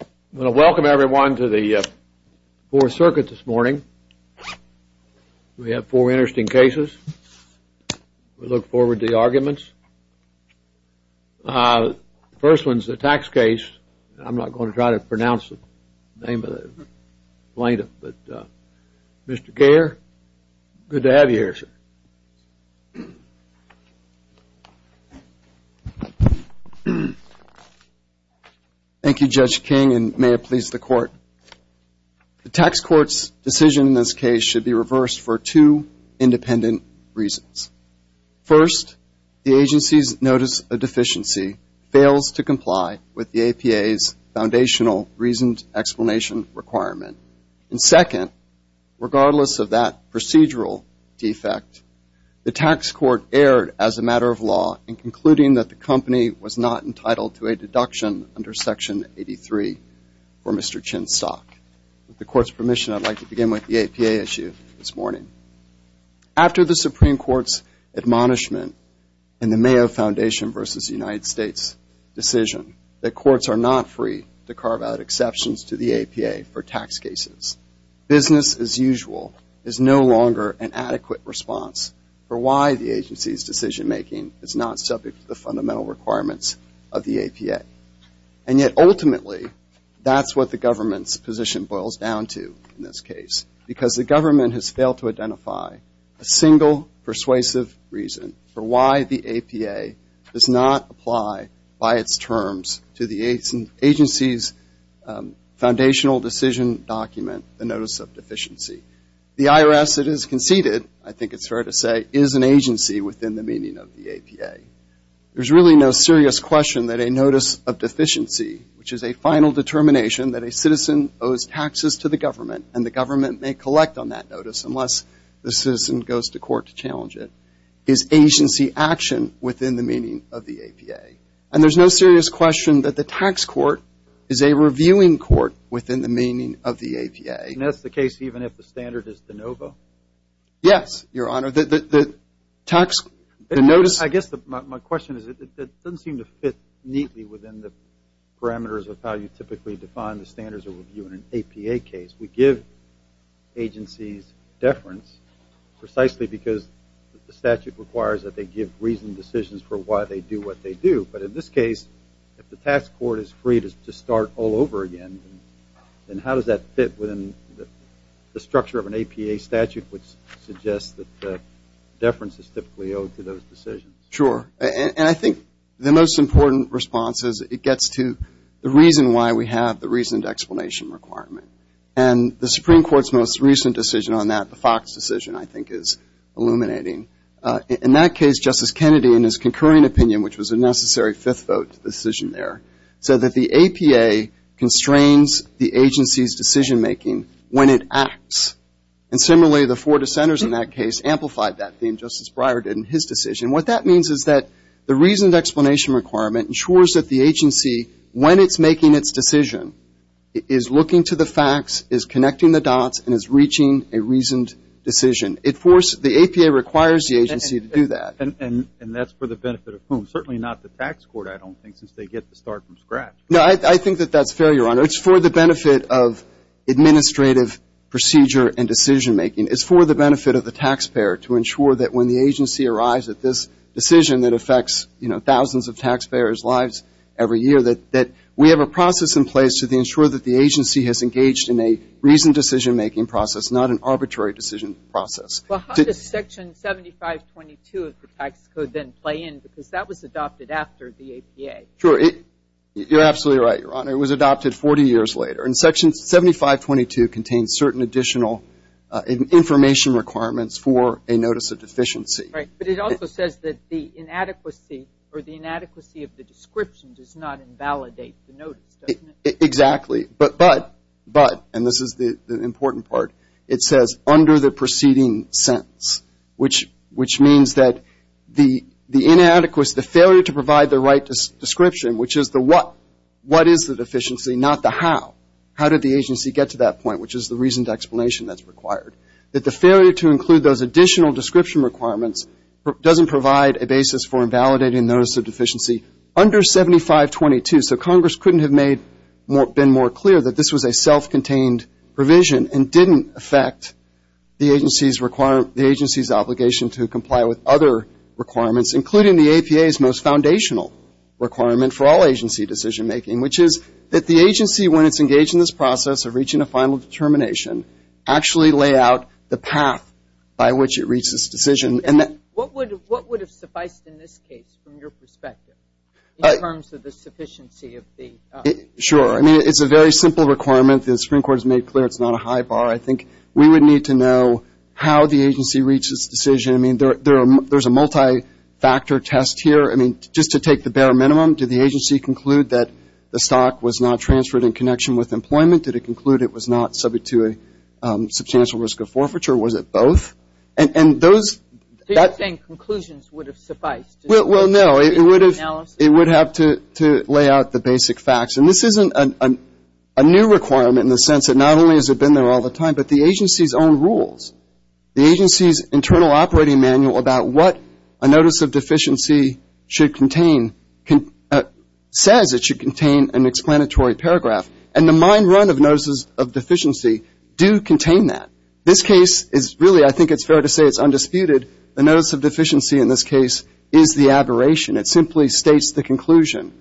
I want to welcome everyone to the Fourth Circuit this morning. We have four interesting cases. We look forward to the arguments. The first one is a tax case. I'm not going to try to pronounce the name of the plaintiff, but Mr. Gare, good to have you here, sir. Thank you, Judge King, and may it please the Court. The tax court's decision in this case should be reversed for two independent reasons. First, the agency's notice of deficiency fails to comply with the APA's foundational reasoned explanation requirement. And second, regardless of that procedural defect, the tax court erred as a matter of law in concluding that the company was not entitled to a deduction under Section 83 for Mr. Chinstock. With the Court's permission, I'd like to begin with the APA issue this morning. After the Supreme Court's admonishment in the Mayo Foundation v. United States decision that courts are not free to carve out exceptions to the APA for tax cases, business as usual is no longer an adequate response for why the agency's decision-making is not subject to the fundamental requirements of the APA. And yet ultimately, that's what the government's position boils down to in this case, because the government has failed to identify a single persuasive reason for why the APA does not apply by its terms to the agency's foundational decision document, the notice of deficiency. The IRS, it has conceded, I think it's fair to say, is an agency within the meaning of the APA. There's really no serious question that a notice of deficiency, which is a final determination that a citizen owes taxes to the government, and the government may collect on that notice unless the citizen goes to court to challenge it, is agency action within the meaning of the APA. And there's no serious question that the tax court is a reviewing court within the meaning of the APA. And that's the case even if the standard is de novo? Yes, Your Honor. The tax, the notice. I guess my question is it doesn't seem to fit neatly within the parameters of how you typically define the standards of review in an APA case. We give agencies deference precisely because the statute requires that they give reasoned decisions for why they do what they do. But in this case, if the tax court is free to start all over again, then how does that fit within the structure of an APA statute which suggests that deference is typically owed to those decisions? Sure. And I think the most important response is it gets to the reason why we have the reasoned explanation requirement. And the Supreme Court's most recent decision on that, the Fox decision, I think is illuminating. In that case, Justice Kennedy, in his concurring opinion, which was a necessary fifth vote decision there, said that the APA constrains the agency's decision-making when it acts. And similarly, the four dissenters in that case amplified that theme. Justice Breyer did in his decision. What that means is that the reasoned explanation requirement ensures that the agency, when it's making its decision, is looking to the facts, is connecting the dots, and is reaching a reasoned decision. The APA requires the agency to do that. And that's for the benefit of whom? Certainly not the tax court, I don't think, since they get to start from scratch. No, I think that that's fair, Your Honor. It's for the benefit of administrative procedure and decision-making. It's for the benefit of the taxpayer to ensure that when the agency arrives at this decision that affects thousands of taxpayers' lives every year, that we have a process in place to ensure that the agency has engaged in a reasoned decision-making process, not an arbitrary decision process. Well, how does Section 7522 of the tax code then play in? Because that was adopted after the APA. Sure. You're absolutely right, Your Honor. It was adopted 40 years later. And Section 7522 contains certain additional information requirements for a notice of deficiency. Right. But it also says that the inadequacy or the inadequacy of the description does not invalidate the notice, doesn't it? Exactly. But, and this is the important part, it says, under the preceding sentence, which means that the inadequacy, the failure to provide the right description, which is the what, what is the deficiency, not the how, how did the agency get to that point, which is the reasoned explanation that's required, that the failure to include those additional description requirements doesn't provide a basis for invalidating notice of deficiency under 7522. So Congress couldn't have made, been more clear that this was a self-contained provision and didn't affect the agency's obligation to comply with other requirements, including the APA's most foundational requirement for all agency decision-making, which is that the agency, when it's engaged in this process of reaching a final determination, actually lay out the path by which it reaches decision. What would have sufficed in this case, from your perspective, in terms of the sufficiency of the? Sure. I mean, it's a very simple requirement. The Supreme Court has made clear it's not a high bar. I think we would need to know how the agency reached this decision. I mean, there's a multi-factor test here. I mean, just to take the bare minimum, did the agency conclude that the stock was not transferred in connection with employment? Did it conclude it was not subject to a substantial risk of forfeiture? Was it both? So you're saying conclusions would have sufficed? Well, no. It would have to lay out the basic facts. And this isn't a new requirement in the sense that not only has it been there all the time, but the agency's own rules, the agency's internal operating manual about what a notice of deficiency should contain, says it should contain an explanatory paragraph. And the mine run of notices of deficiency do contain that. This case is really, I think it's fair to say it's undisputed, a notice of deficiency in this case is the aberration. It simply states the conclusion.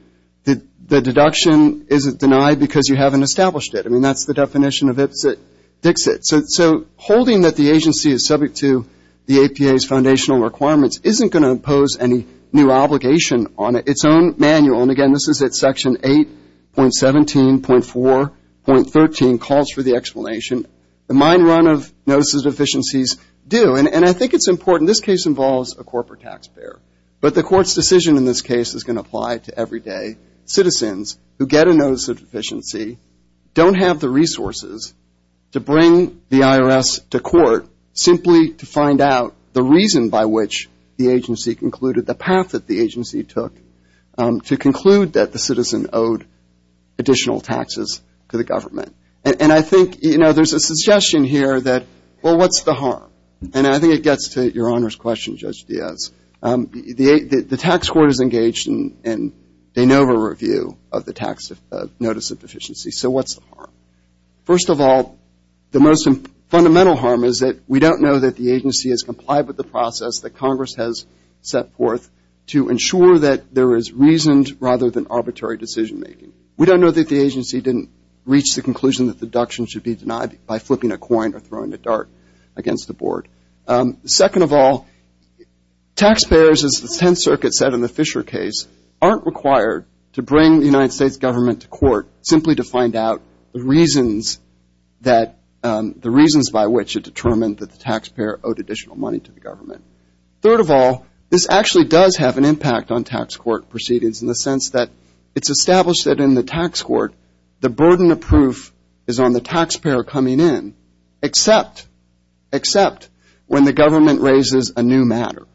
The deduction isn't denied because you haven't established it. I mean, that's the definition of Ipsit-Dixit. So holding that the agency is subject to the APA's foundational requirements isn't going to impose any new obligation on its own manual. And, again, this is at Section 8.17.4.13 calls for the explanation. The mine run of notices of deficiencies do. And I think it's important. This case involves a corporate taxpayer. But the court's decision in this case is going to apply to everyday citizens who get a notice of deficiency, don't have the resources to bring the IRS to court simply to find out the reason by which the agency concluded, the path that the agency took to conclude that the citizen owed additional taxes to the government. And I think, you know, there's a suggestion here that, well, what's the harm? And I think it gets to Your Honor's question, Judge Diaz. The tax court is engaged in de novo review of the tax notice of deficiency. So what's the harm? First of all, the most fundamental harm is that we don't know that the agency has complied with the process that Congress has set forth to ensure that there is reasoned rather than arbitrary decision making. We don't know that the agency didn't reach the conclusion that deduction should be denied by flipping a coin or throwing a dart against the board. Second of all, taxpayers, as the Tenth Circuit said in the Fisher case, aren't required to bring the United States government to court simply to find out the reasons that, the reasons by which it determined that the taxpayer owed additional money to the government. Third of all, this actually does have an impact on tax court proceedings in the sense that it's established that in the tax court, the burden of proof is on the taxpayer coming in, except when the government raises a new matter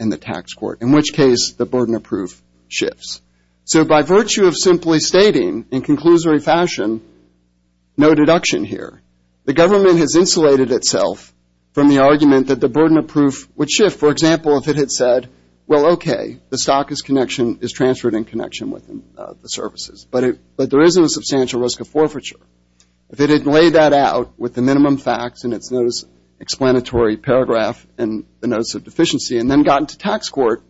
in the tax court, in which case the burden of proof shifts. So by virtue of simply stating in conclusory fashion, no deduction here, the government has insulated itself from the argument that the burden of proof would shift. For example, if it had said, well, okay, the stock is transferred in connection with the services, but there isn't a substantial risk of forfeiture. If it had laid that out with the minimum facts in its notice explanatory paragraph and the notice of deficiency and then gotten to tax court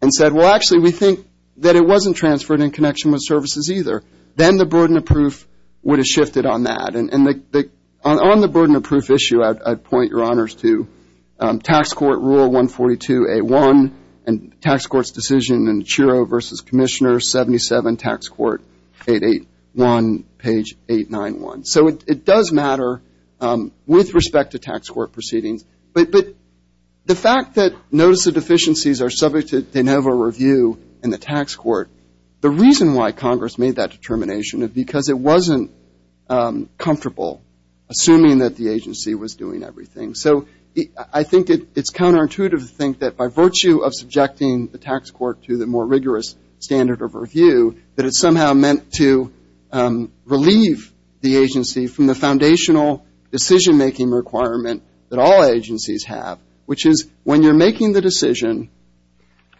and said, well, actually, we think that it wasn't transferred in connection with services either, then the burden of proof would have shifted on that. On the burden of proof issue, I'd point your honors to tax court rule 142A1 and tax court's decision in Chiro versus Commissioner 77, tax court 881, page 891. So it does matter with respect to tax court proceedings. But the fact that notice of deficiencies are subject to de novo review in the tax court, the reason why Congress made that determination is because it wasn't comfortable assuming that the agency was doing everything. So I think it's counterintuitive to think that by virtue of subjecting the tax court to the more rigorous standard of review, that it's somehow meant to relieve the agency from the foundational decision-making requirement that all agencies have, which is when you're making the decision,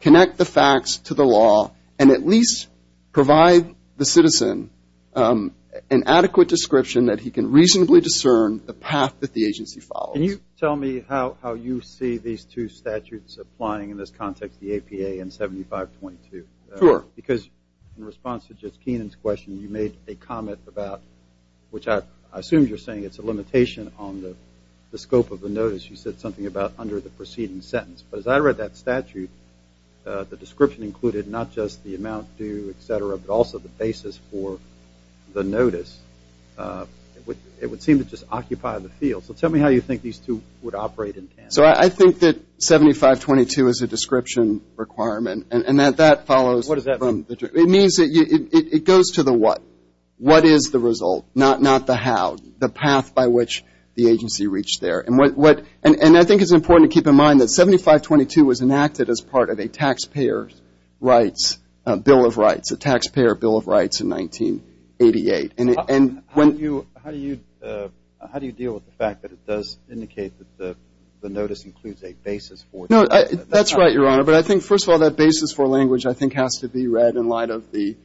connect the facts to the law and at least provide the citizen an adequate description that he can reasonably discern the path that the agency follows. Can you tell me how you see these two statutes applying in this context, the APA and 7522? Sure. Because in response to just Kenan's question, you made a comment about, which I assume you're saying it's a limitation on the scope of the notice. You said something about under the preceding sentence. But as I read that statute, the description included not just the amount due, et cetera, but also the basis for the notice. It would seem to just occupy the field. So tell me how you think these two would operate in tandem. So I think that 7522 is a description requirement. And that that follows. What does that mean? It means that it goes to the what. What is the result, not the how, the path by which the agency reached there. And I think it's important to keep in mind that 7522 was enacted as part of a taxpayer's rights, a bill of rights, a taxpayer bill of rights in 1988. How do you deal with the fact that it does indicate that the notice includes a basis for it? No, that's right, Your Honor. But I think, first of all, that basis for language I think has to be read in light of the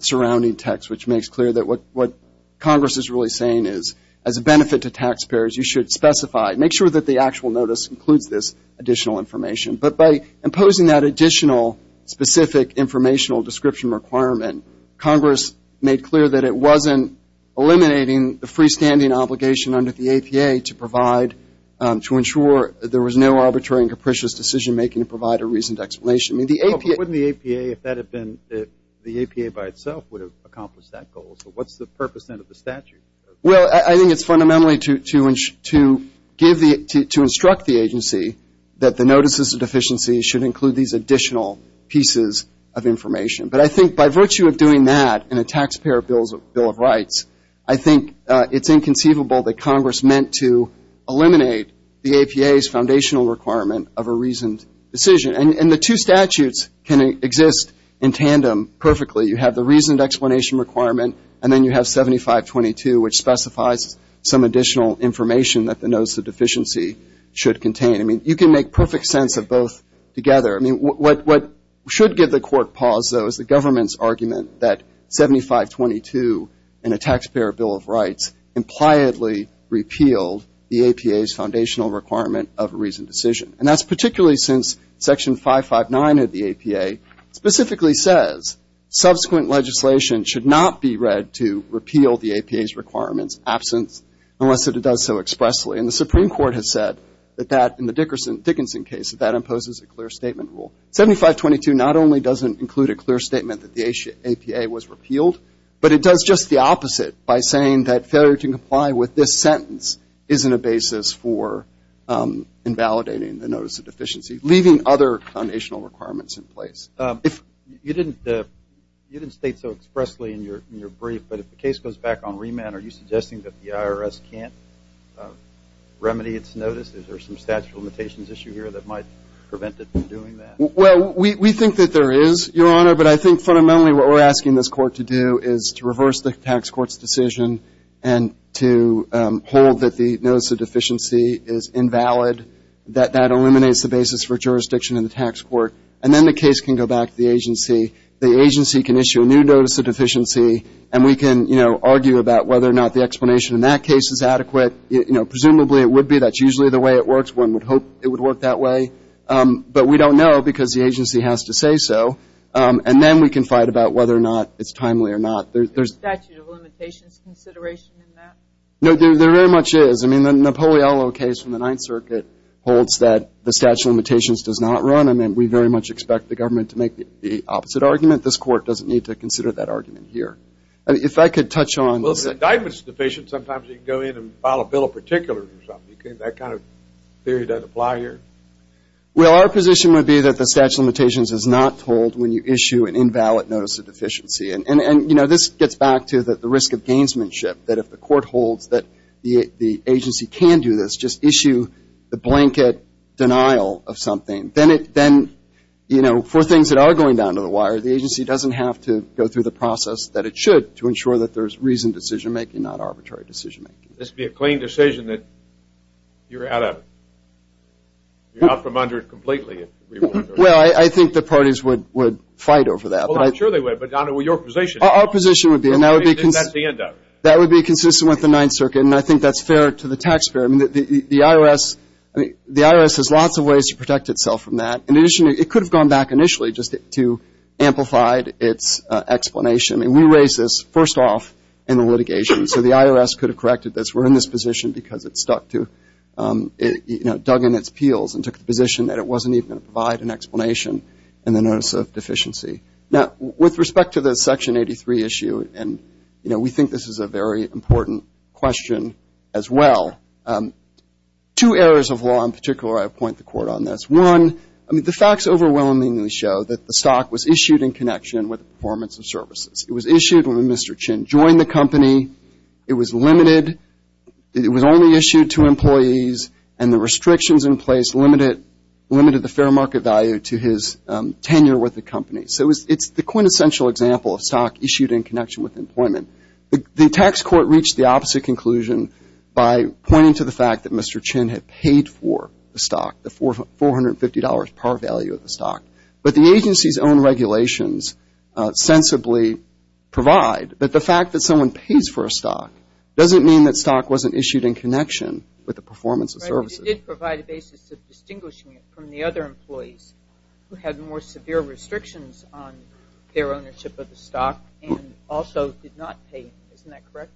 surrounding text, which makes clear that what Congress is really saying is as a benefit to taxpayers, you should specify, make sure that the actual notice includes this additional information. But by imposing that additional specific informational description requirement, Congress made clear that it wasn't eliminating the freestanding obligation under the APA to provide, to ensure there was no arbitrary and capricious decision-making to provide a reasoned explanation. But wouldn't the APA, if that had been the APA by itself, would have accomplished that goal? So what's the purpose, then, of the statute? Well, I think it's fundamentally to instruct the agency that the notices of deficiency should include these additional pieces of information. But I think by virtue of doing that in a taxpayer bill of rights, I think it's inconceivable that Congress meant to eliminate the APA's foundational requirement of a reasoned decision. And the two statutes can exist in tandem perfectly. You have the reasoned explanation requirement, and then you have 7522, which specifies some additional information that the notice of deficiency should contain. I mean, you can make perfect sense of both together. I mean, what should give the Court pause, though, is the government's argument that 7522 in a taxpayer bill of rights impliedly repealed the APA's foundational requirement of a reasoned decision. And that's particularly since Section 559 of the APA specifically says subsequent legislation should not be read to repeal the APA's requirements, absence, unless it does so expressly. And the Supreme Court has said that that, in the Dickinson case, that that imposes a clear statement rule. 7522 not only doesn't include a clear statement that the APA was repealed, but it does just the opposite by saying that failure to comply with this sentence isn't a basis for invalidating the notice of deficiency, leaving other foundational requirements in place. You didn't state so expressly in your brief, but if the case goes back on remand, are you suggesting that the IRS can't remedy its notice? Is there some statute of limitations issue here that might prevent it from doing that? Well, we think that there is, Your Honor, but I think fundamentally what we're asking this Court to do is to reverse the tax court's decision and to hold that the notice of deficiency is invalid, that that eliminates the basis for jurisdiction in the tax court, and then the case can go back to the agency. The agency can issue a new notice of deficiency, and we can, you know, argue about whether or not the explanation in that case is adequate. You know, presumably it would be. That's usually the way it works. One would hope it would work that way. But we don't know because the agency has to say so. And then we can fight about whether or not it's timely or not. Is there a statute of limitations consideration in that? No, there very much is. I mean, the Napoleolo case from the Ninth Circuit holds that the statute of limitations does not run. I mean, we very much expect the government to make the opposite argument. This Court doesn't need to consider that argument here. If I could touch on this. Well, if an indictment is deficient, sometimes you can go in and file a bill of particulars or something. That kind of theory doesn't apply here? Well, our position would be that the statute of limitations is not told when you issue an invalid notice of deficiency. And, you know, this gets back to the risk of gamesmanship, that if the Court holds that the agency can do this, just issue the blanket denial of something. Then, you know, for things that are going down to the wire, the agency doesn't have to go through the process that it should to ensure that there's reasoned decision-making, not arbitrary decision-making. This would be a clean decision that you're out from under it completely. Well, I think the parties would fight over that. Well, I'm sure they would. But, Donald, what's your position? Our position would be, and that would be consistent with the Ninth Circuit, and I think that's fair to the taxpayer. The IRS has lots of ways to protect itself from that. In addition, it could have gone back initially just to amplify its explanation. I mean, we raised this first off in the litigation, so the IRS could have corrected this. We're in this position because it stuck to, you know, dug in its peels and took the position that it wasn't even going to provide an explanation in the notice of deficiency. Now, with respect to the Section 83 issue, and, you know, we think this is a very important question as well, two areas of law in particular, I point the court on this. One, I mean, the facts overwhelmingly show that the stock was issued in connection with performance of services. It was issued when Mr. Chin joined the company. It was limited. It was only issued to employees, and the restrictions in place limited the fair market value to his tenure with the company. So it's the quintessential example of stock issued in connection with employment. The tax court reached the opposite conclusion by pointing to the fact that Mr. Chin had paid for the stock, the $450 par value of the stock. But the agency's own regulations sensibly provide that the fact that someone pays for a stock doesn't mean that stock wasn't issued in connection with the performance of services. But the court did provide a basis of distinguishing it from the other employees who had more severe restrictions on their ownership of the stock and also did not pay. Isn't that correct?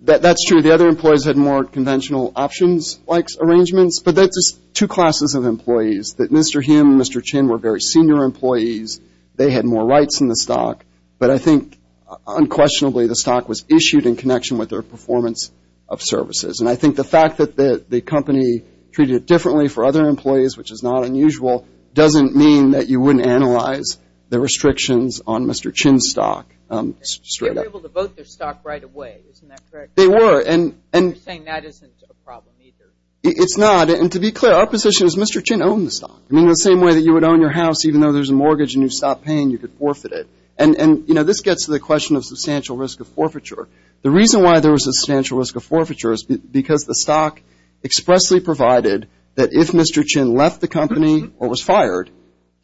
That's true. The other employees had more conventional options-like arrangements. But that's just two classes of employees, that Mr. Him, Mr. Chin were very senior employees. They had more rights in the stock. But I think unquestionably the stock was issued in connection with their performance of services. And I think the fact that the company treated it differently for other employees, which is not unusual, doesn't mean that you wouldn't analyze the restrictions on Mr. Chin's stock straight up. They were able to vote their stock right away. Isn't that correct? They were. You're saying that isn't a problem either. It's not. And to be clear, our position is Mr. Chin owned the stock. I mean, the same way that you would own your house even though there's a mortgage and you stop paying, you could forfeit it. And, you know, this gets to the question of substantial risk of forfeiture. The reason why there was a substantial risk of forfeiture is because the stock expressly provided that if Mr. Chin left the company or was fired,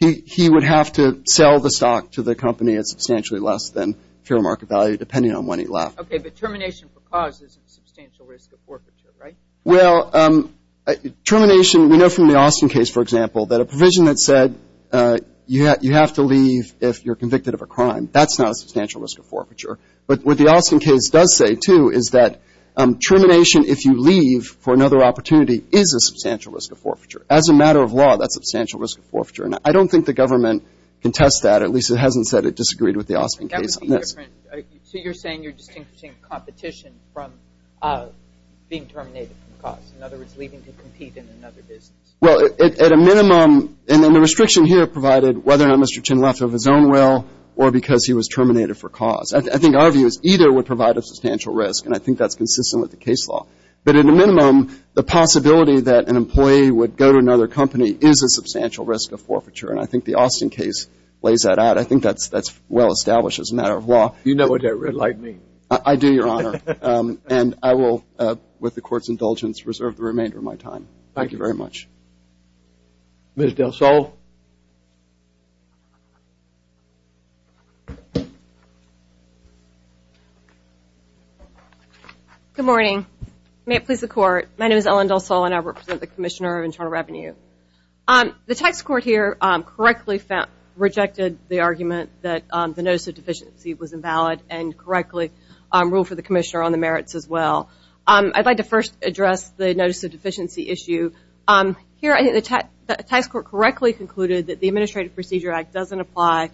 he would have to sell the stock to the company at substantially less than fair market value, depending on when he left. Okay, but termination for cause is a substantial risk of forfeiture, right? Well, termination, we know from the Austin case, for example, that a provision that said you have to leave if you're convicted of a crime, that's not a substantial risk of forfeiture. But what the Austin case does say, too, is that termination if you leave for another opportunity is a substantial risk of forfeiture. As a matter of law, that's a substantial risk of forfeiture. And I don't think the government can test that. At least it hasn't said it disagreed with the Austin case on this. That would be different. So you're saying you're distinguishing competition from being terminated for cause, in other words, leaving to compete in another business. Well, at a minimum, and then the restriction here provided whether or not Mr. Chin left of his own will or because he was terminated for cause. I think our view is either would provide a substantial risk, and I think that's consistent with the case law. But at a minimum, the possibility that an employee would go to another company is a substantial risk of forfeiture. And I think the Austin case lays that out. I think that's well established as a matter of law. You know what that red light means. I do, Your Honor. And I will, with the Court's indulgence, reserve the remainder of my time. Thank you very much. Ms. Del Sol. Good morning. May it please the Court. My name is Ellen Del Sol, and I represent the Commissioner of Internal Revenue. The tax court here correctly rejected the argument that the notice of deficiency was invalid and correctly ruled for the Commissioner on the merits as well. I'd like to first address the notice of deficiency issue. Here, I think the tax court correctly concluded that the Administrative Procedure Act doesn't apply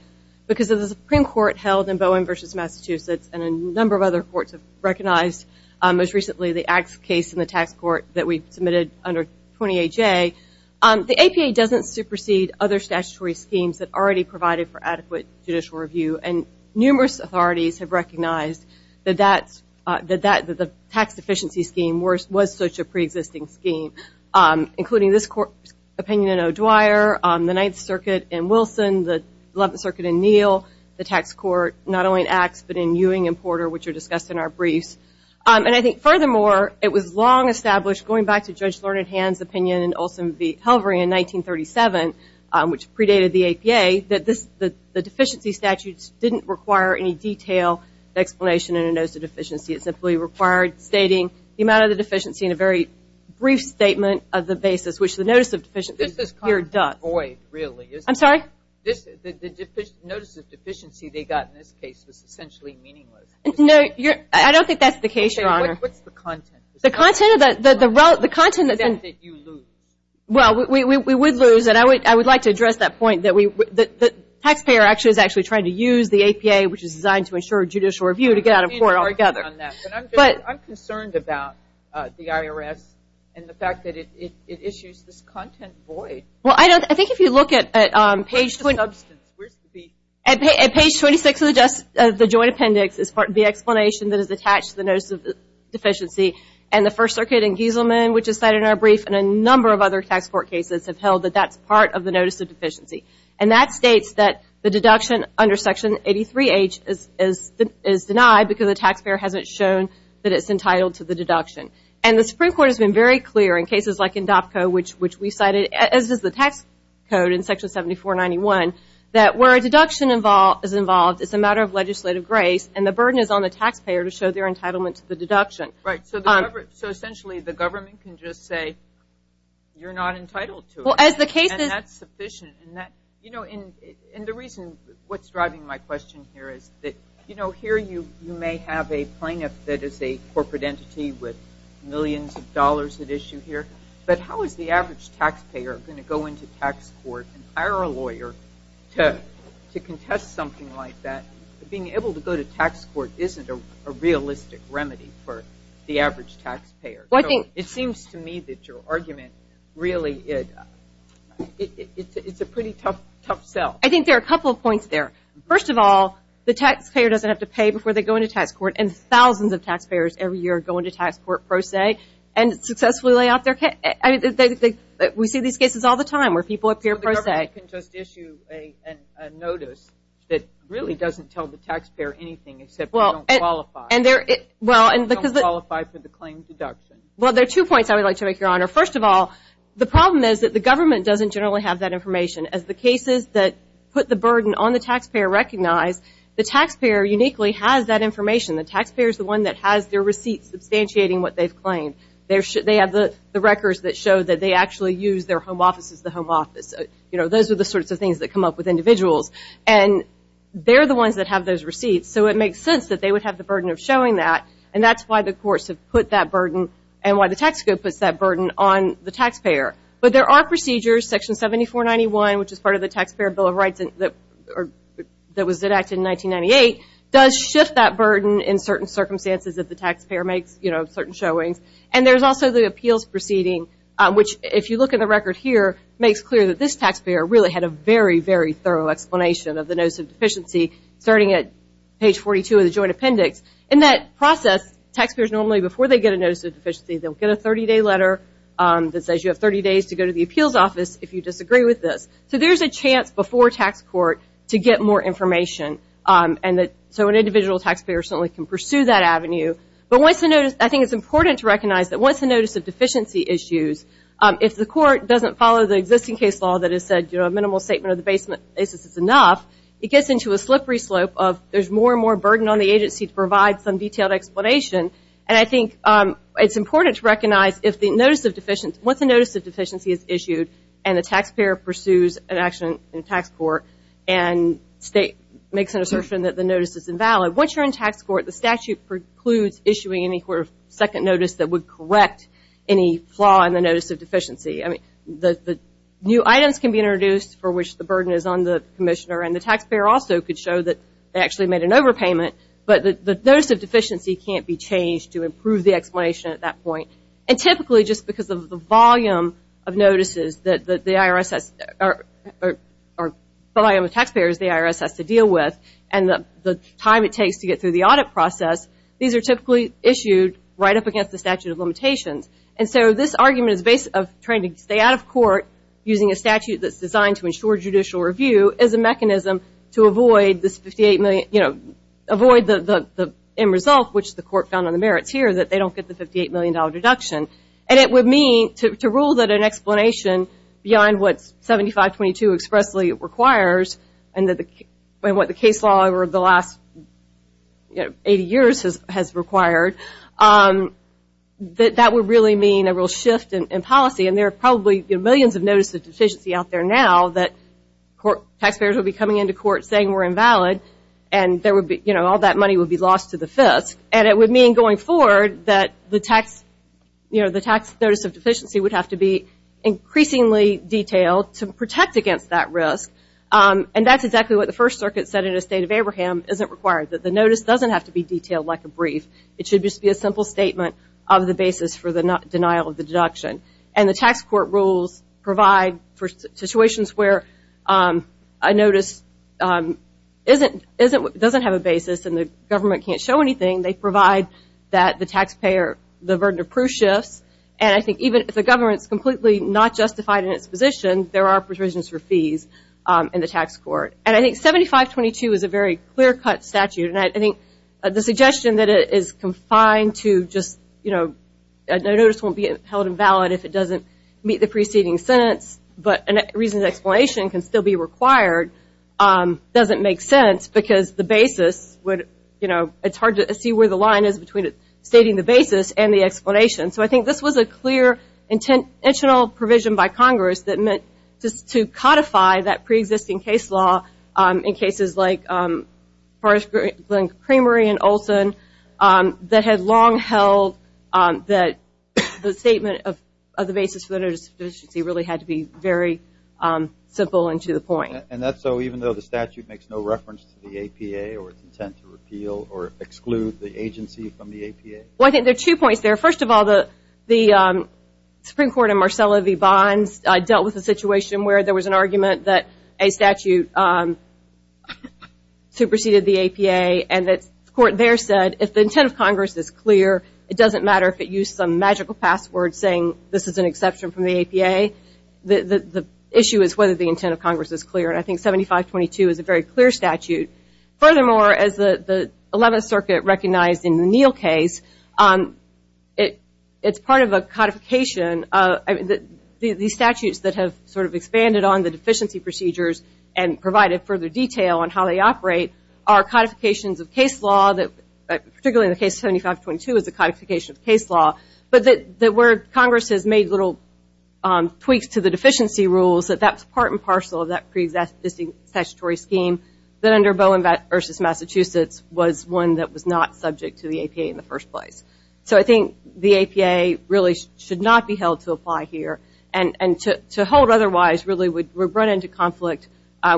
because of the Supreme Court held in Bowen v. Massachusetts, and a number of other courts have recognized, most recently, the Axe case in the tax court that we submitted under 28J. The APA doesn't supersede other statutory schemes that already provided for adequate judicial review, and numerous authorities have recognized that the tax deficiency scheme was such a preexisting scheme, including this Court's opinion in O'Dwyer, the Ninth Circuit in Wilson, the Eleventh Circuit in Neal, the tax court, not only in Axe but in Ewing and Porter, which are discussed in our briefs. And I think, furthermore, it was long established, going back to Judge Learned Hand's opinion in Olson v. didn't require any detail explanation in a notice of deficiency. It simply required stating the amount of the deficiency in a very brief statement of the basis, which the notice of deficiency here does. This is kind of void, really, isn't it? I'm sorry? The notice of deficiency they got in this case was essentially meaningless. No, I don't think that's the case, Your Honor. What's the content? The content? The content is that you lose. Well, we would lose, and I would like to address that point, that the taxpayer is actually trying to use the APA, which is designed to ensure judicial review, to get out of court altogether. I'm concerned about the IRS and the fact that it issues this content void. Well, I think if you look at page 26 of the Joint Appendix, the explanation that is attached to the notice of deficiency, and the First Circuit in Gieselman, which is cited in our brief, and a number of other tax court cases have held that that's part of the notice of deficiency. And that states that the deduction under Section 83H is denied because the taxpayer hasn't shown that it's entitled to the deduction. And the Supreme Court has been very clear in cases like INDOPCO, which we cited, as does the tax code in Section 7491, that where a deduction is involved, it's a matter of legislative grace, and the burden is on the taxpayer to show their entitlement to the deduction. Right. So essentially the government can just say, you're not entitled to it. And that's sufficient. And the reason what's driving my question here is that here you may have a plaintiff that is a corporate entity with millions of dollars at issue here, but how is the average taxpayer going to go into tax court and hire a lawyer to contest something like that? Being able to go to tax court isn't a realistic remedy for the average taxpayer. It seems to me that your argument really, it's a pretty tough sell. I think there are a couple of points there. First of all, the taxpayer doesn't have to pay before they go into tax court, and thousands of taxpayers every year go into tax court pro se and successfully lay off their – we see these cases all the time where people appear pro se. They can just issue a notice that really doesn't tell the taxpayer anything except they don't qualify. They don't qualify for the claim deduction. Well, there are two points I would like to make, Your Honor. First of all, the problem is that the government doesn't generally have that information. As the cases that put the burden on the taxpayer recognize, the taxpayer uniquely has that information. The taxpayer is the one that has their receipt substantiating what they've claimed. They have the records that show that they actually use their home office as the home office. Those are the sorts of things that come up with individuals. And they're the ones that have those receipts, so it makes sense that they would have the burden of showing that, and that's why the courts have put that burden and why the tax code puts that burden on the taxpayer. But there are procedures, Section 7491, which is part of the Taxpayer Bill of Rights that was enacted in 1998, does shift that burden in certain circumstances if the taxpayer makes certain showings. And there's also the appeals proceeding, which, if you look at the record here, makes clear that this taxpayer really had a very, very thorough explanation of the notice of deficiency, starting at page 42 of the joint appendix. In that process, taxpayers normally, before they get a notice of deficiency, they'll get a 30-day letter that says you have 30 days to go to the appeals office if you disagree with this. So there's a chance before tax court to get more information, so an individual taxpayer certainly can pursue that avenue. But I think it's important to recognize that once the notice of deficiency is used, if the court doesn't follow the existing case law that has said, you know, a minimal statement of the basis is enough, it gets into a slippery slope of there's more and more burden on the agency to provide some detailed explanation. And I think it's important to recognize if the notice of deficiency is issued and the taxpayer pursues an action in tax court and makes an assertion that the notice is invalid, once you're in tax court, the statute precludes issuing any sort of second notice that would correct any flaw in the notice of deficiency. I mean, the new items can be introduced for which the burden is on the commissioner, and the taxpayer also could show that they actually made an overpayment, but the notice of deficiency can't be changed to improve the explanation at that point. And typically, just because of the volume of notices that the IRS has, or the volume of taxpayers the IRS has to deal with, and the time it takes to get through the audit process, these are typically issued right up against the statute of limitations. And so this argument is based of trying to stay out of court using a statute that's designed to ensure judicial review as a mechanism to avoid this 58 million, you know, avoid the end result, which the court found on the merits here, that they don't get the $58 million deduction. And it would mean to rule that an explanation beyond what 7522 expressly requires and what the case law over the last 80 years has required, that that would really mean a real shift in policy. And there are probably millions of notices of deficiency out there now that taxpayers would be coming into court saying we're invalid, and all that money would be lost to the FISC. And it would mean going forward that the tax notice of deficiency would have to be increasingly detailed to protect against that risk. And that's exactly what the First Circuit said in the State of Abraham, isn't required, that the notice doesn't have to be detailed like a brief. It should just be a simple statement of the basis for the denial of the deduction. And the tax court rules provide for situations where a notice doesn't have a basis and the government can't show anything, they provide that the taxpayer, the burden of proof shifts. And I think even if the government is completely not justified in its position, there are provisions for fees in the tax court. And I think 7522 is a very clear-cut statute, and I think the suggestion that it is confined to just, you know, a notice won't be held invalid if it doesn't meet the preceding sentence, but a reasoned explanation can still be required doesn't make sense because the basis would, you know, it's hard to see where the line is between stating the basis and the explanation. So I think this was a clear intentional provision by Congress that meant just to codify that preexisting case law in cases like Kramer and Olson that had long held that the statement of the basis for the notice of deficiency really had to be very simple and to the point. And that's so even though the statute makes no reference to the APA or its intent to repeal or exclude the agency from the APA? Well, I think there are two points there. First of all, the Supreme Court in Marcella v. Bonds dealt with the situation where there was an argument that a statute superseded the APA, and the court there said if the intent of Congress is clear, it doesn't matter if it used some magical password saying this is an exception from the APA. The issue is whether the intent of Congress is clear, and I think 7522 is a very clear statute. Furthermore, as the 11th Circuit recognized in the Neal case, it's part of a codification. The statutes that have sort of expanded on the deficiency procedures and provided further detail on how they operate are codifications of case law, particularly in the case 7522 is a codification of case law, but where Congress has made little tweaks to the deficiency rules, that's part and parcel of that pre-existing statutory scheme that under Bowen v. Massachusetts was one that was not subject to the APA in the first place. So I think the APA really should not be held to apply here, and to hold otherwise really would run into conflict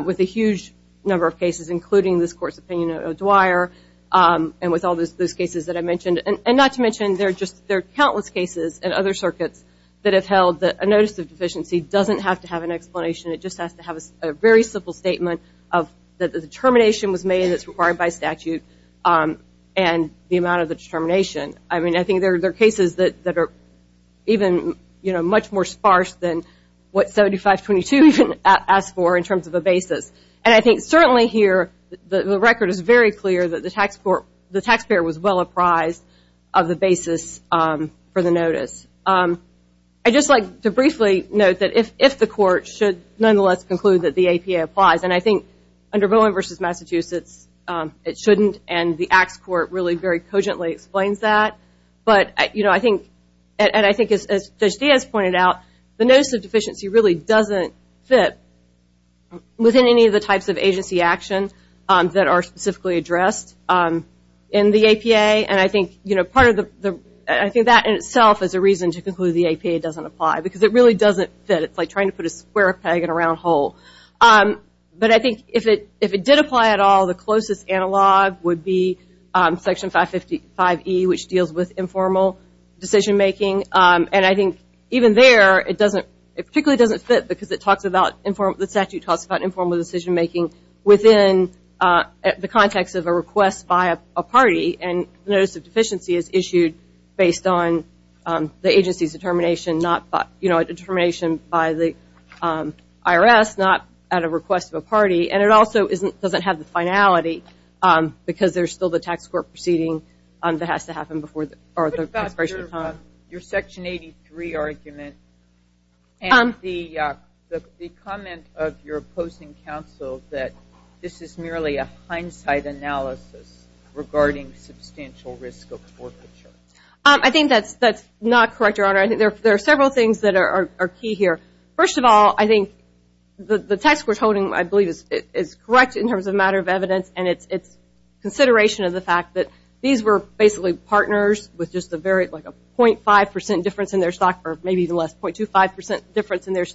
with a huge number of cases, including this Court's opinion of Dwyer and with all those cases that I mentioned, and not to mention there are countless cases in other circuits that have held that a notice of deficiency doesn't have to have an explanation. It just has to have a very simple statement that the determination was made that's required by statute and the amount of the determination. I mean, I think there are cases that are even much more sparse than what 7522 even asked for in terms of a basis. And I think certainly here the record is very clear that the taxpayer was well apprised of the basis for the notice. I'd just like to briefly note that if the Court should nonetheless conclude that the APA applies, and I think under Bowen v. Massachusetts it shouldn't, and the Acts Court really very cogently explains that, but I think as Judge Diaz pointed out, the notice of deficiency really doesn't fit within any of the types of agency actions that are specifically addressed in the APA, and I think that in itself is a reason to conclude the APA doesn't apply because it really doesn't fit. It's like trying to put a square peg in a round hole. But I think if it did apply at all, the closest analog would be Section 555E, which deals with informal decision-making, and I think even there it particularly doesn't fit because the statute talks about informal decision-making within the context of a request by a party. And notice of deficiency is issued based on the agency's determination by the IRS, not at a request of a party, and it also doesn't have the finality because there's still the tax court proceeding that has to happen before the expiration of time. Your Section 83 argument and the comment of your opposing counsel that this is merely a hindsight analysis regarding substantial risk of forfeiture. I think that's not correct, Your Honor. I think there are several things that are key here. First of all, I think the text we're toting, I believe, is correct in terms of matter of evidence, and it's consideration of the fact that these were basically partners with just a 0.5 percent difference in their stock, or maybe even less, 0.25 percent difference in their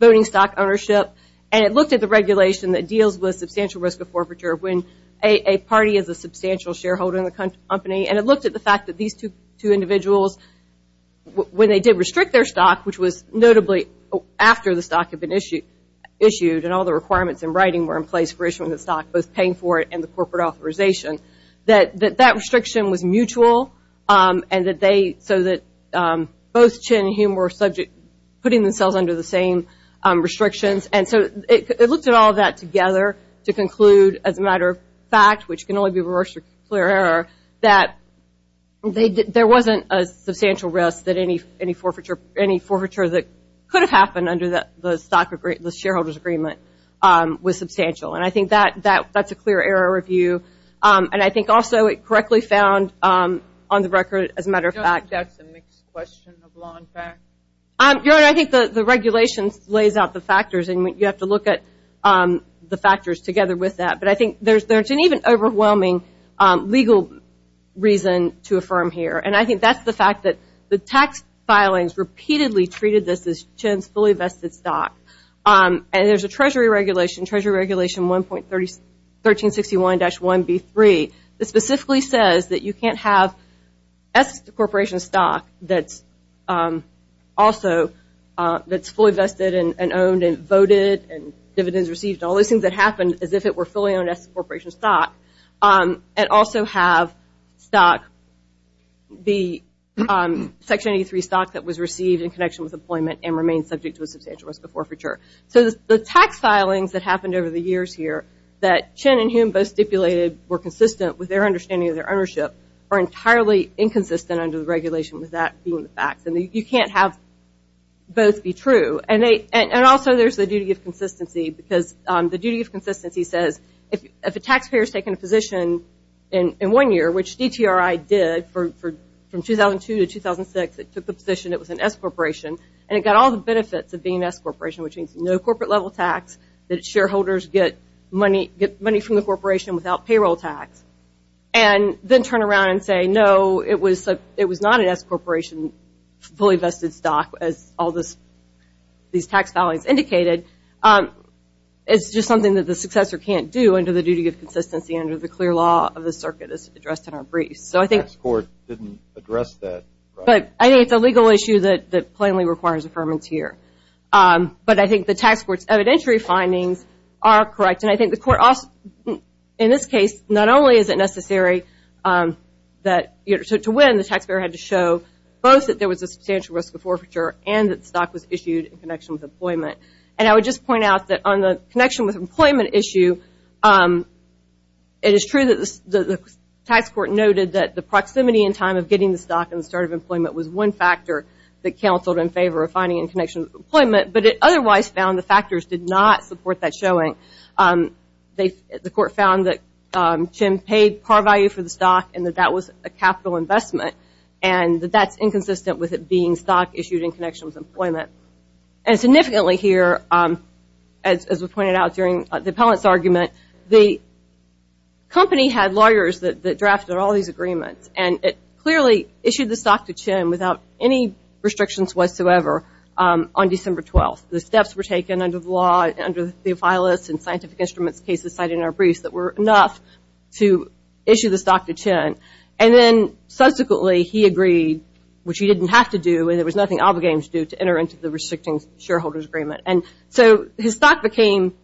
voting stock ownership. And it looked at the regulation that deals with substantial risk of forfeiture when a party is a substantial shareholder in the company, and it looked at the fact that these two individuals, when they did restrict their stock, which was notably after the stock had been issued and all the requirements in writing were in place for issuing the stock, both paying for it and the corporate authorization, that that restriction was mutual so that both Chin and Hume were subject to putting themselves under the same restrictions. And so it looked at all that together to conclude, as a matter of fact, which can only be reversed through clear error, that there wasn't a substantial risk that any forfeiture that could have happened under the shareholders' agreement was substantial. And I think that's a clear error review, and I think also it correctly found on the record, as a matter of fact. I think the regulation lays out the factors, and you have to look at the factors together with that. But I think there's an even overwhelming legal reason to affirm here, and I think that's the fact that the tax filings repeatedly treated this as Chin's fully vested stock. And there's a Treasury regulation, Treasury Regulation 1.1361-1B3, that specifically says that you can't have S corporation stock that's also fully vested and owned and voted and dividends received, and all those things that happened as if it were fully owned S corporation stock, and also have stock, the Section 83 stock that was received in connection with employment and remained subject to a substantial risk of forfeiture. So the tax filings that happened over the years here, that Chin and Hume both stipulated were consistent with their understanding of their ownership, are entirely inconsistent under the regulation with that being the fact. And you can't have both be true. And also there's the duty of consistency, because the duty of consistency says, if a taxpayer's taken a position in one year, which DTRI did from 2002 to 2006, it took the position it was an S corporation, and it got all the benefits of being an S corporation, which means no corporate level tax, that shareholders get money from the corporation without payroll tax, and then turn around and say, no, it was not an S corporation fully vested stock, as all these tax filings indicated. It's just something that the successor can't do under the duty of consistency under the clear law of the circuit as addressed in our briefs. The tax court didn't address that. But I think it's a legal issue that plainly requires affirmance here. But I think the tax court's evidentiary findings are correct. And I think the court also, in this case, not only is it necessary to win, the taxpayer had to show both that there was a substantial risk of forfeiture and that stock was issued in connection with employment. And I would just point out that on the connection with employment issue, it is true that the tax court noted that the proximity and time of getting the stock in the start of employment was one factor that counseled in favor of finding in connection with employment, but it otherwise found the factors did not support that showing. The court found that Jim paid par value for the stock and that that was a capital investment, and that that's inconsistent with it being stock issued in connection with employment. And significantly here, as was pointed out during the appellant's argument, the company had lawyers that drafted all these agreements, and it clearly issued the stock to Jim without any restrictions whatsoever on December 12th. The steps were taken under the law, under the filist and scientific instruments cases cited in our briefs that were enough to issue the stock to Jim. And then subsequently he agreed, which he didn't have to do, and there was nothing obligating him to do to enter into the restricting shareholder's agreement. And so his stock became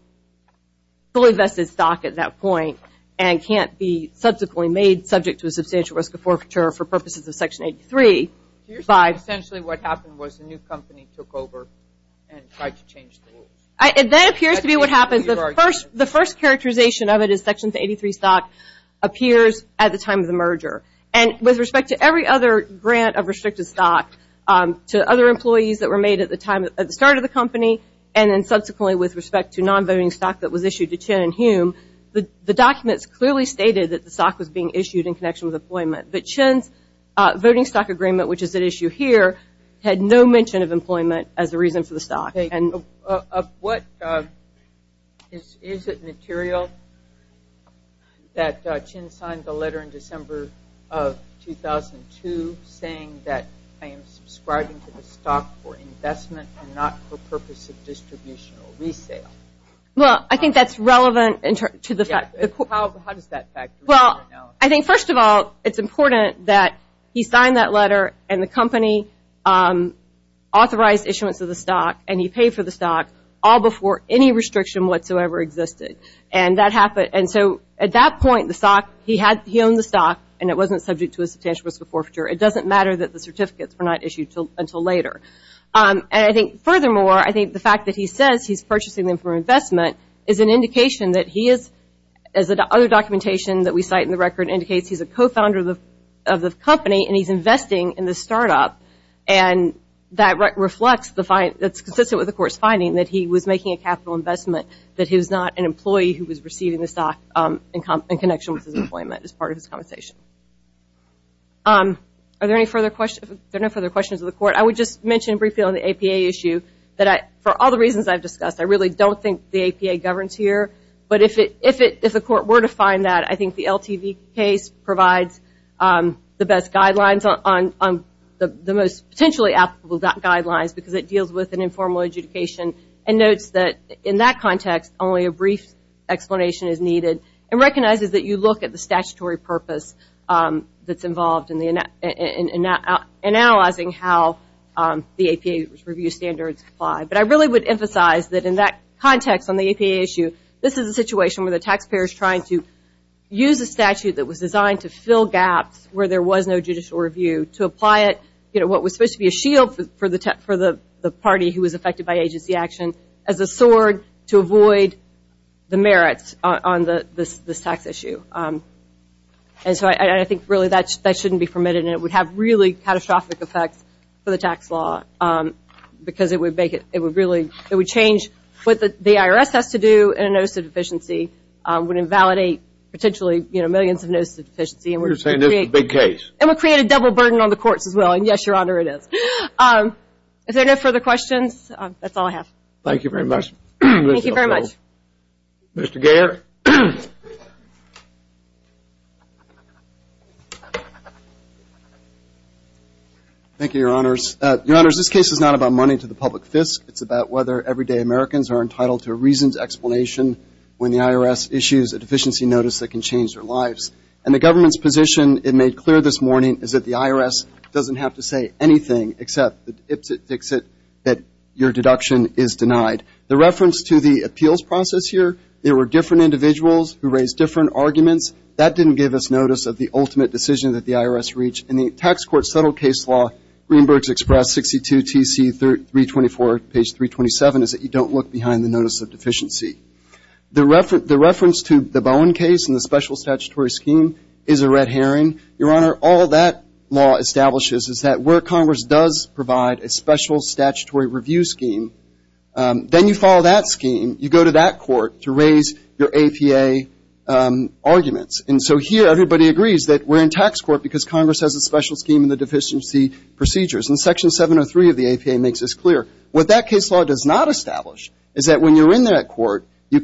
fully invested stock at that point and can't be subsequently made subject to a substantial risk of forfeiture for purposes of Section 83. Here's essentially what happened was the new company took over and tried to change the rules. That appears to be what happened. The first characterization of it is Section 83 stock appears at the time of the merger. And with respect to every other grant of restricted stock to other employees that were made at the time at the start of the company, and then subsequently with respect to non-voting stock that was issued to Chin and Hume, the documents clearly stated that the stock was being issued in connection with employment. But Chin's voting stock agreement, which is at issue here, Is it material that Chin signed the letter in December of 2002 saying that I am subscribing to the stock for investment and not for purpose of distribution or resale? Well, I think that's relevant. How does that factor in? Well, I think first of all, it's important that he signed that letter and the company authorized issuance of the stock and he paid for the stock all before any restriction whatsoever existed. And so at that point, he owned the stock and it wasn't subject to a substantial risk of forfeiture. It doesn't matter that the certificates were not issued until later. And I think furthermore, I think the fact that he says he's purchasing them for investment is an indication that he is, as the other documentation that we cite in the record indicates, he's a co-founder of the company and he's investing in the startup. And that reflects the fact that's consistent with the court's finding that he was making a capital investment, that he was not an employee who was receiving the stock in connection with his employment as part of his compensation. Are there any further questions of the court? I would just mention briefly on the APA issue that for all the reasons I've discussed, I really don't think the APA governs here. But if the court were to find that, I think the LTV case provides the best guidelines on the most potentially applicable guidelines because it deals with an informal adjudication and notes that in that context, only a brief explanation is needed and recognizes that you look at the statutory purpose that's involved in analyzing how the APA review standards apply. But I really would emphasize that in that context on the APA issue, this is a situation where the taxpayer is trying to use a statute that was designed to fill gaps where there was no judicial review to apply it, what was supposed to be a shield for the party who was affected by agency action as a sword to avoid the merits on this tax issue. And so I think really that shouldn't be permitted and it would have really catastrophic effects for the tax law because it would change what the IRS has to do and a notice of deficiency would invalidate potentially millions of notices of deficiency. You're saying this is a big case. And it would create a double burden on the courts as well. And yes, Your Honor, it is. If there are no further questions, that's all I have. Thank you very much. Thank you very much. Mr. Garrett. Thank you, Your Honors. Your Honors, this case is not about money to the public fisc. It's about whether everyday Americans are entitled to a reasons explanation when the IRS issues a deficiency notice that can change their lives. And the government's position, it made clear this morning, is that the IRS doesn't have to say anything except that your deduction is denied. The reference to the appeals process here, there were different individuals who raised different arguments. That didn't give us notice of the ultimate decision that the IRS reached. And the tax court settled case law, Greenberg's Express, 62 TC 324, page 327, is that you don't look behind the notice of deficiency. The reference to the Bowen case and the special statutory scheme is a red herring. Your Honor, all that law establishes is that where Congress does provide a special statutory review scheme, then you follow that scheme, you go to that court to raise your APA arguments. And so here, everybody agrees that we're in tax court because Congress has a special scheme in the deficiency procedures. And Section 703 of the APA makes this clear. What that case law does not establish is that when you're in that court, you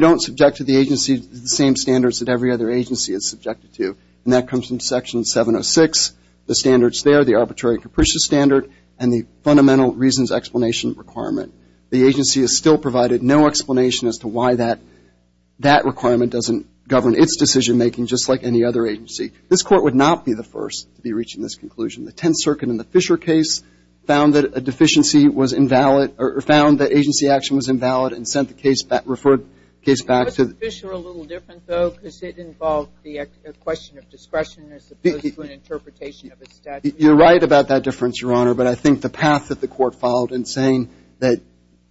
don't subject to the agency the same standards that every other agency is subjected to. And that comes from Section 706. The standards there, the arbitrary capricious standard and the fundamental reasons explanation requirement. The agency is still provided no explanation as to why that requirement doesn't govern. It's decision-making just like any other agency. This Court would not be the first to be reaching this conclusion. The Tenth Circuit in the Fisher case found that a deficiency was invalid or found that agency action was invalid and sent the case back, referred the case back to the ---- Wasn't Fisher a little different, though, because it involved the question of discretion as opposed to an interpretation of a statute? You're right about that difference, Your Honor. But I think the path that the Court followed in saying that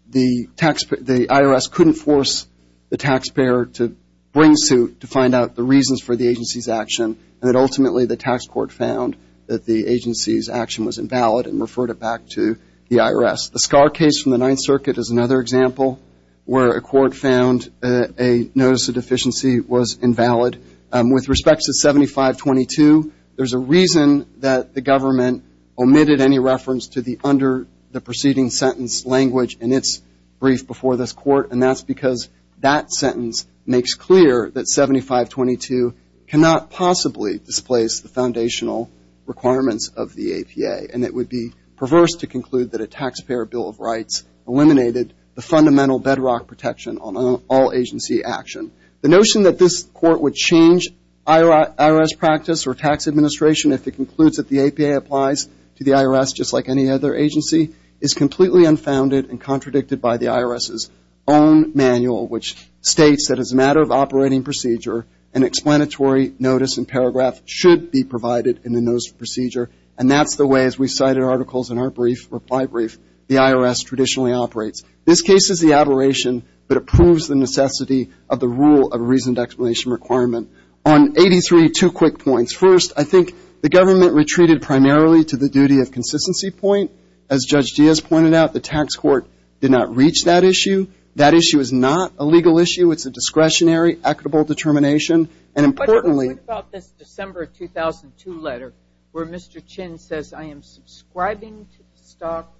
the IRS couldn't force the taxpayer to bring suit to find out the reasons for the agency's action and that ultimately the tax court found that the agency's action was invalid and referred it back to the IRS. The SCAR case from the Ninth Circuit is another example where a court found a notice of deficiency was invalid. With respect to 7522, there's a reason that the government omitted any reference to the under the preceding sentence language in its brief before this Court, and that's because that sentence makes clear that 7522 cannot possibly displace the foundational requirements of the APA, and it would be perverse to conclude that a taxpayer bill of rights eliminated the fundamental bedrock protection on all agency action. The notion that this Court would change IRS practice or tax administration if it concludes that the APA applies to the IRS just like any other agency is completely unfounded and contradicted by the IRS's own manual, which states that as a matter of operating procedure, an explanatory notice and paragraph should be provided in the notice of procedure, and that's the way, as we cited articles in our brief, reply brief, the IRS traditionally operates. This case is the aberration that approves the necessity of the rule of reasoned explanation requirement. On 83, two quick points. First, I think the government retreated primarily to the duty of consistency point as Judge Diaz pointed out. The tax court did not reach that issue. That issue is not a legal issue. It's a discretionary, equitable determination, and importantly. What about this December 2002 letter where Mr. Chin says, I am subscribing to the stock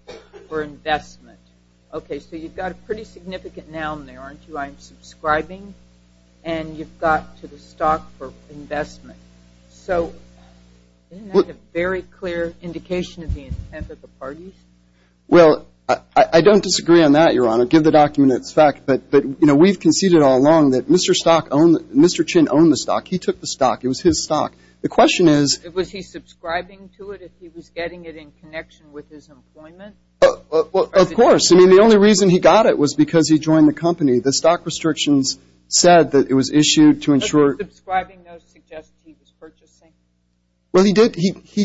for investment? Okay, so you've got a pretty significant noun there, aren't you? I'm subscribing, and you've got to the stock for investment. So isn't that a very clear indication of the intent of the parties? Well, I don't disagree on that, Your Honor. Give the document its fact, but, you know, we've conceded all along that Mr. Stock owned, Mr. Chin owned the stock. He took the stock. It was his stock. The question is. Was he subscribing to it if he was getting it in connection with his employment? Of course. I mean, the only reason he got it was because he joined the company. The stock restrictions said that it was issued to ensure. Subscribing, though, suggests he was purchasing. Well, he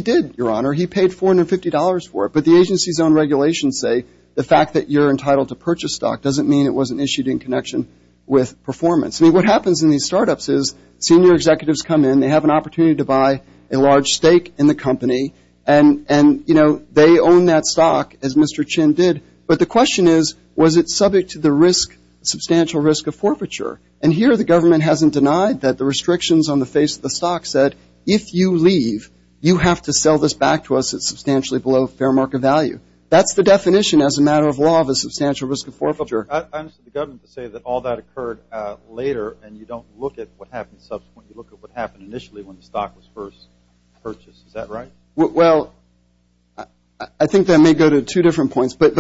did, Your Honor. He paid $450 for it. But the agency's own regulations say the fact that you're entitled to purchase stock doesn't mean it wasn't issued in connection with performance. I mean, what happens in these startups is senior executives come in. They have an opportunity to buy a large stake in the company, and, you know, they own that stock, as Mr. Chin did. But the question is, was it subject to the substantial risk of forfeiture? And here the government hasn't denied that the restrictions on the face of the stock said, if you leave, you have to sell this back to us at substantially below fair market value. That's the definition as a matter of law of a substantial risk of forfeiture. I understand the government to say that all that occurred later, and you don't look at what happens subsequently. You look at what happened initially when the stock was first purchased. Is that right? Well, I think that may go to two different points. But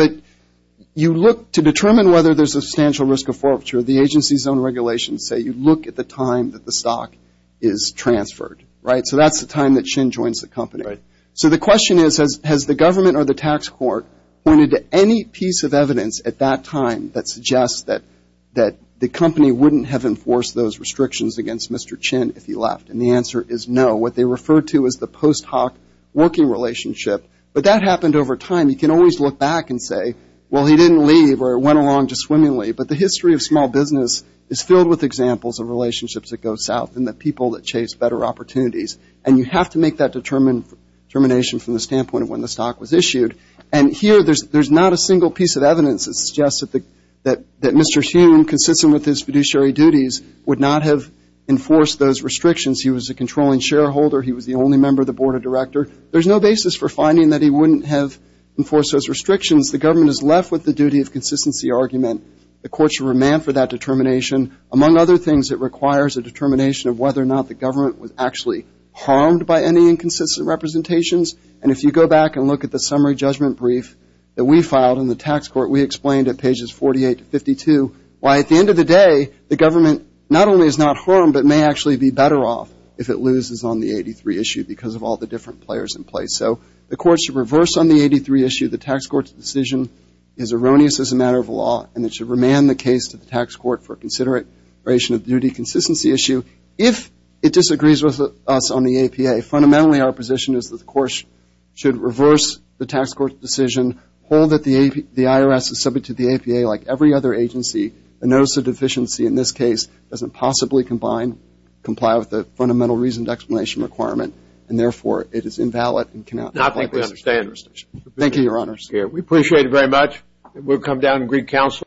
you look to determine whether there's a substantial risk of forfeiture. The agency's own regulations say you look at the time that the stock is transferred, right? So that's the time that Chin joins the company. So the question is, has the government or the tax court pointed to any piece of evidence at that time that suggests that the company wouldn't have enforced those restrictions against Mr. Chin if he left? And the answer is no. What they refer to is the post hoc working relationship. But that happened over time. You can always look back and say, well, he didn't leave or went along just swimmingly. But the history of small business is filled with examples of relationships that go south and the people that chase better opportunities. And you have to make that determination from the standpoint of when the stock was issued. And here there's not a single piece of evidence that suggests that Mr. Chin, consistent with his fiduciary duties, would not have enforced those restrictions. He was a controlling shareholder. He was the only member of the board of directors. There's no basis for finding that he wouldn't have enforced those restrictions. The government is left with the duty of consistency argument. The court should remand for that determination. Among other things, it requires a determination of whether or not the government was actually harmed by any inconsistent representations. And if you go back and look at the summary judgment brief that we filed in the tax court, we explained at pages 48 to 52 why at the end of the day the government not only is not harmed, but may actually be better off if it loses on the 83 issue because of all the different players in place. So the court should reverse on the 83 issue. The tax court's decision is erroneous as a matter of law, and it should remand the case to the tax court for consideration of the duty consistency issue. If it disagrees with us on the APA, fundamentally our position is that the court should reverse the tax court's decision, hold that the IRS is subject to the APA like every other agency, and notice of deficiency in this case doesn't possibly combine, comply with the fundamental reasoned explanation requirement, and therefore it is invalid. I think we understand. Thank you, Your Honors. We appreciate it very much. We'll come down and greet counsel.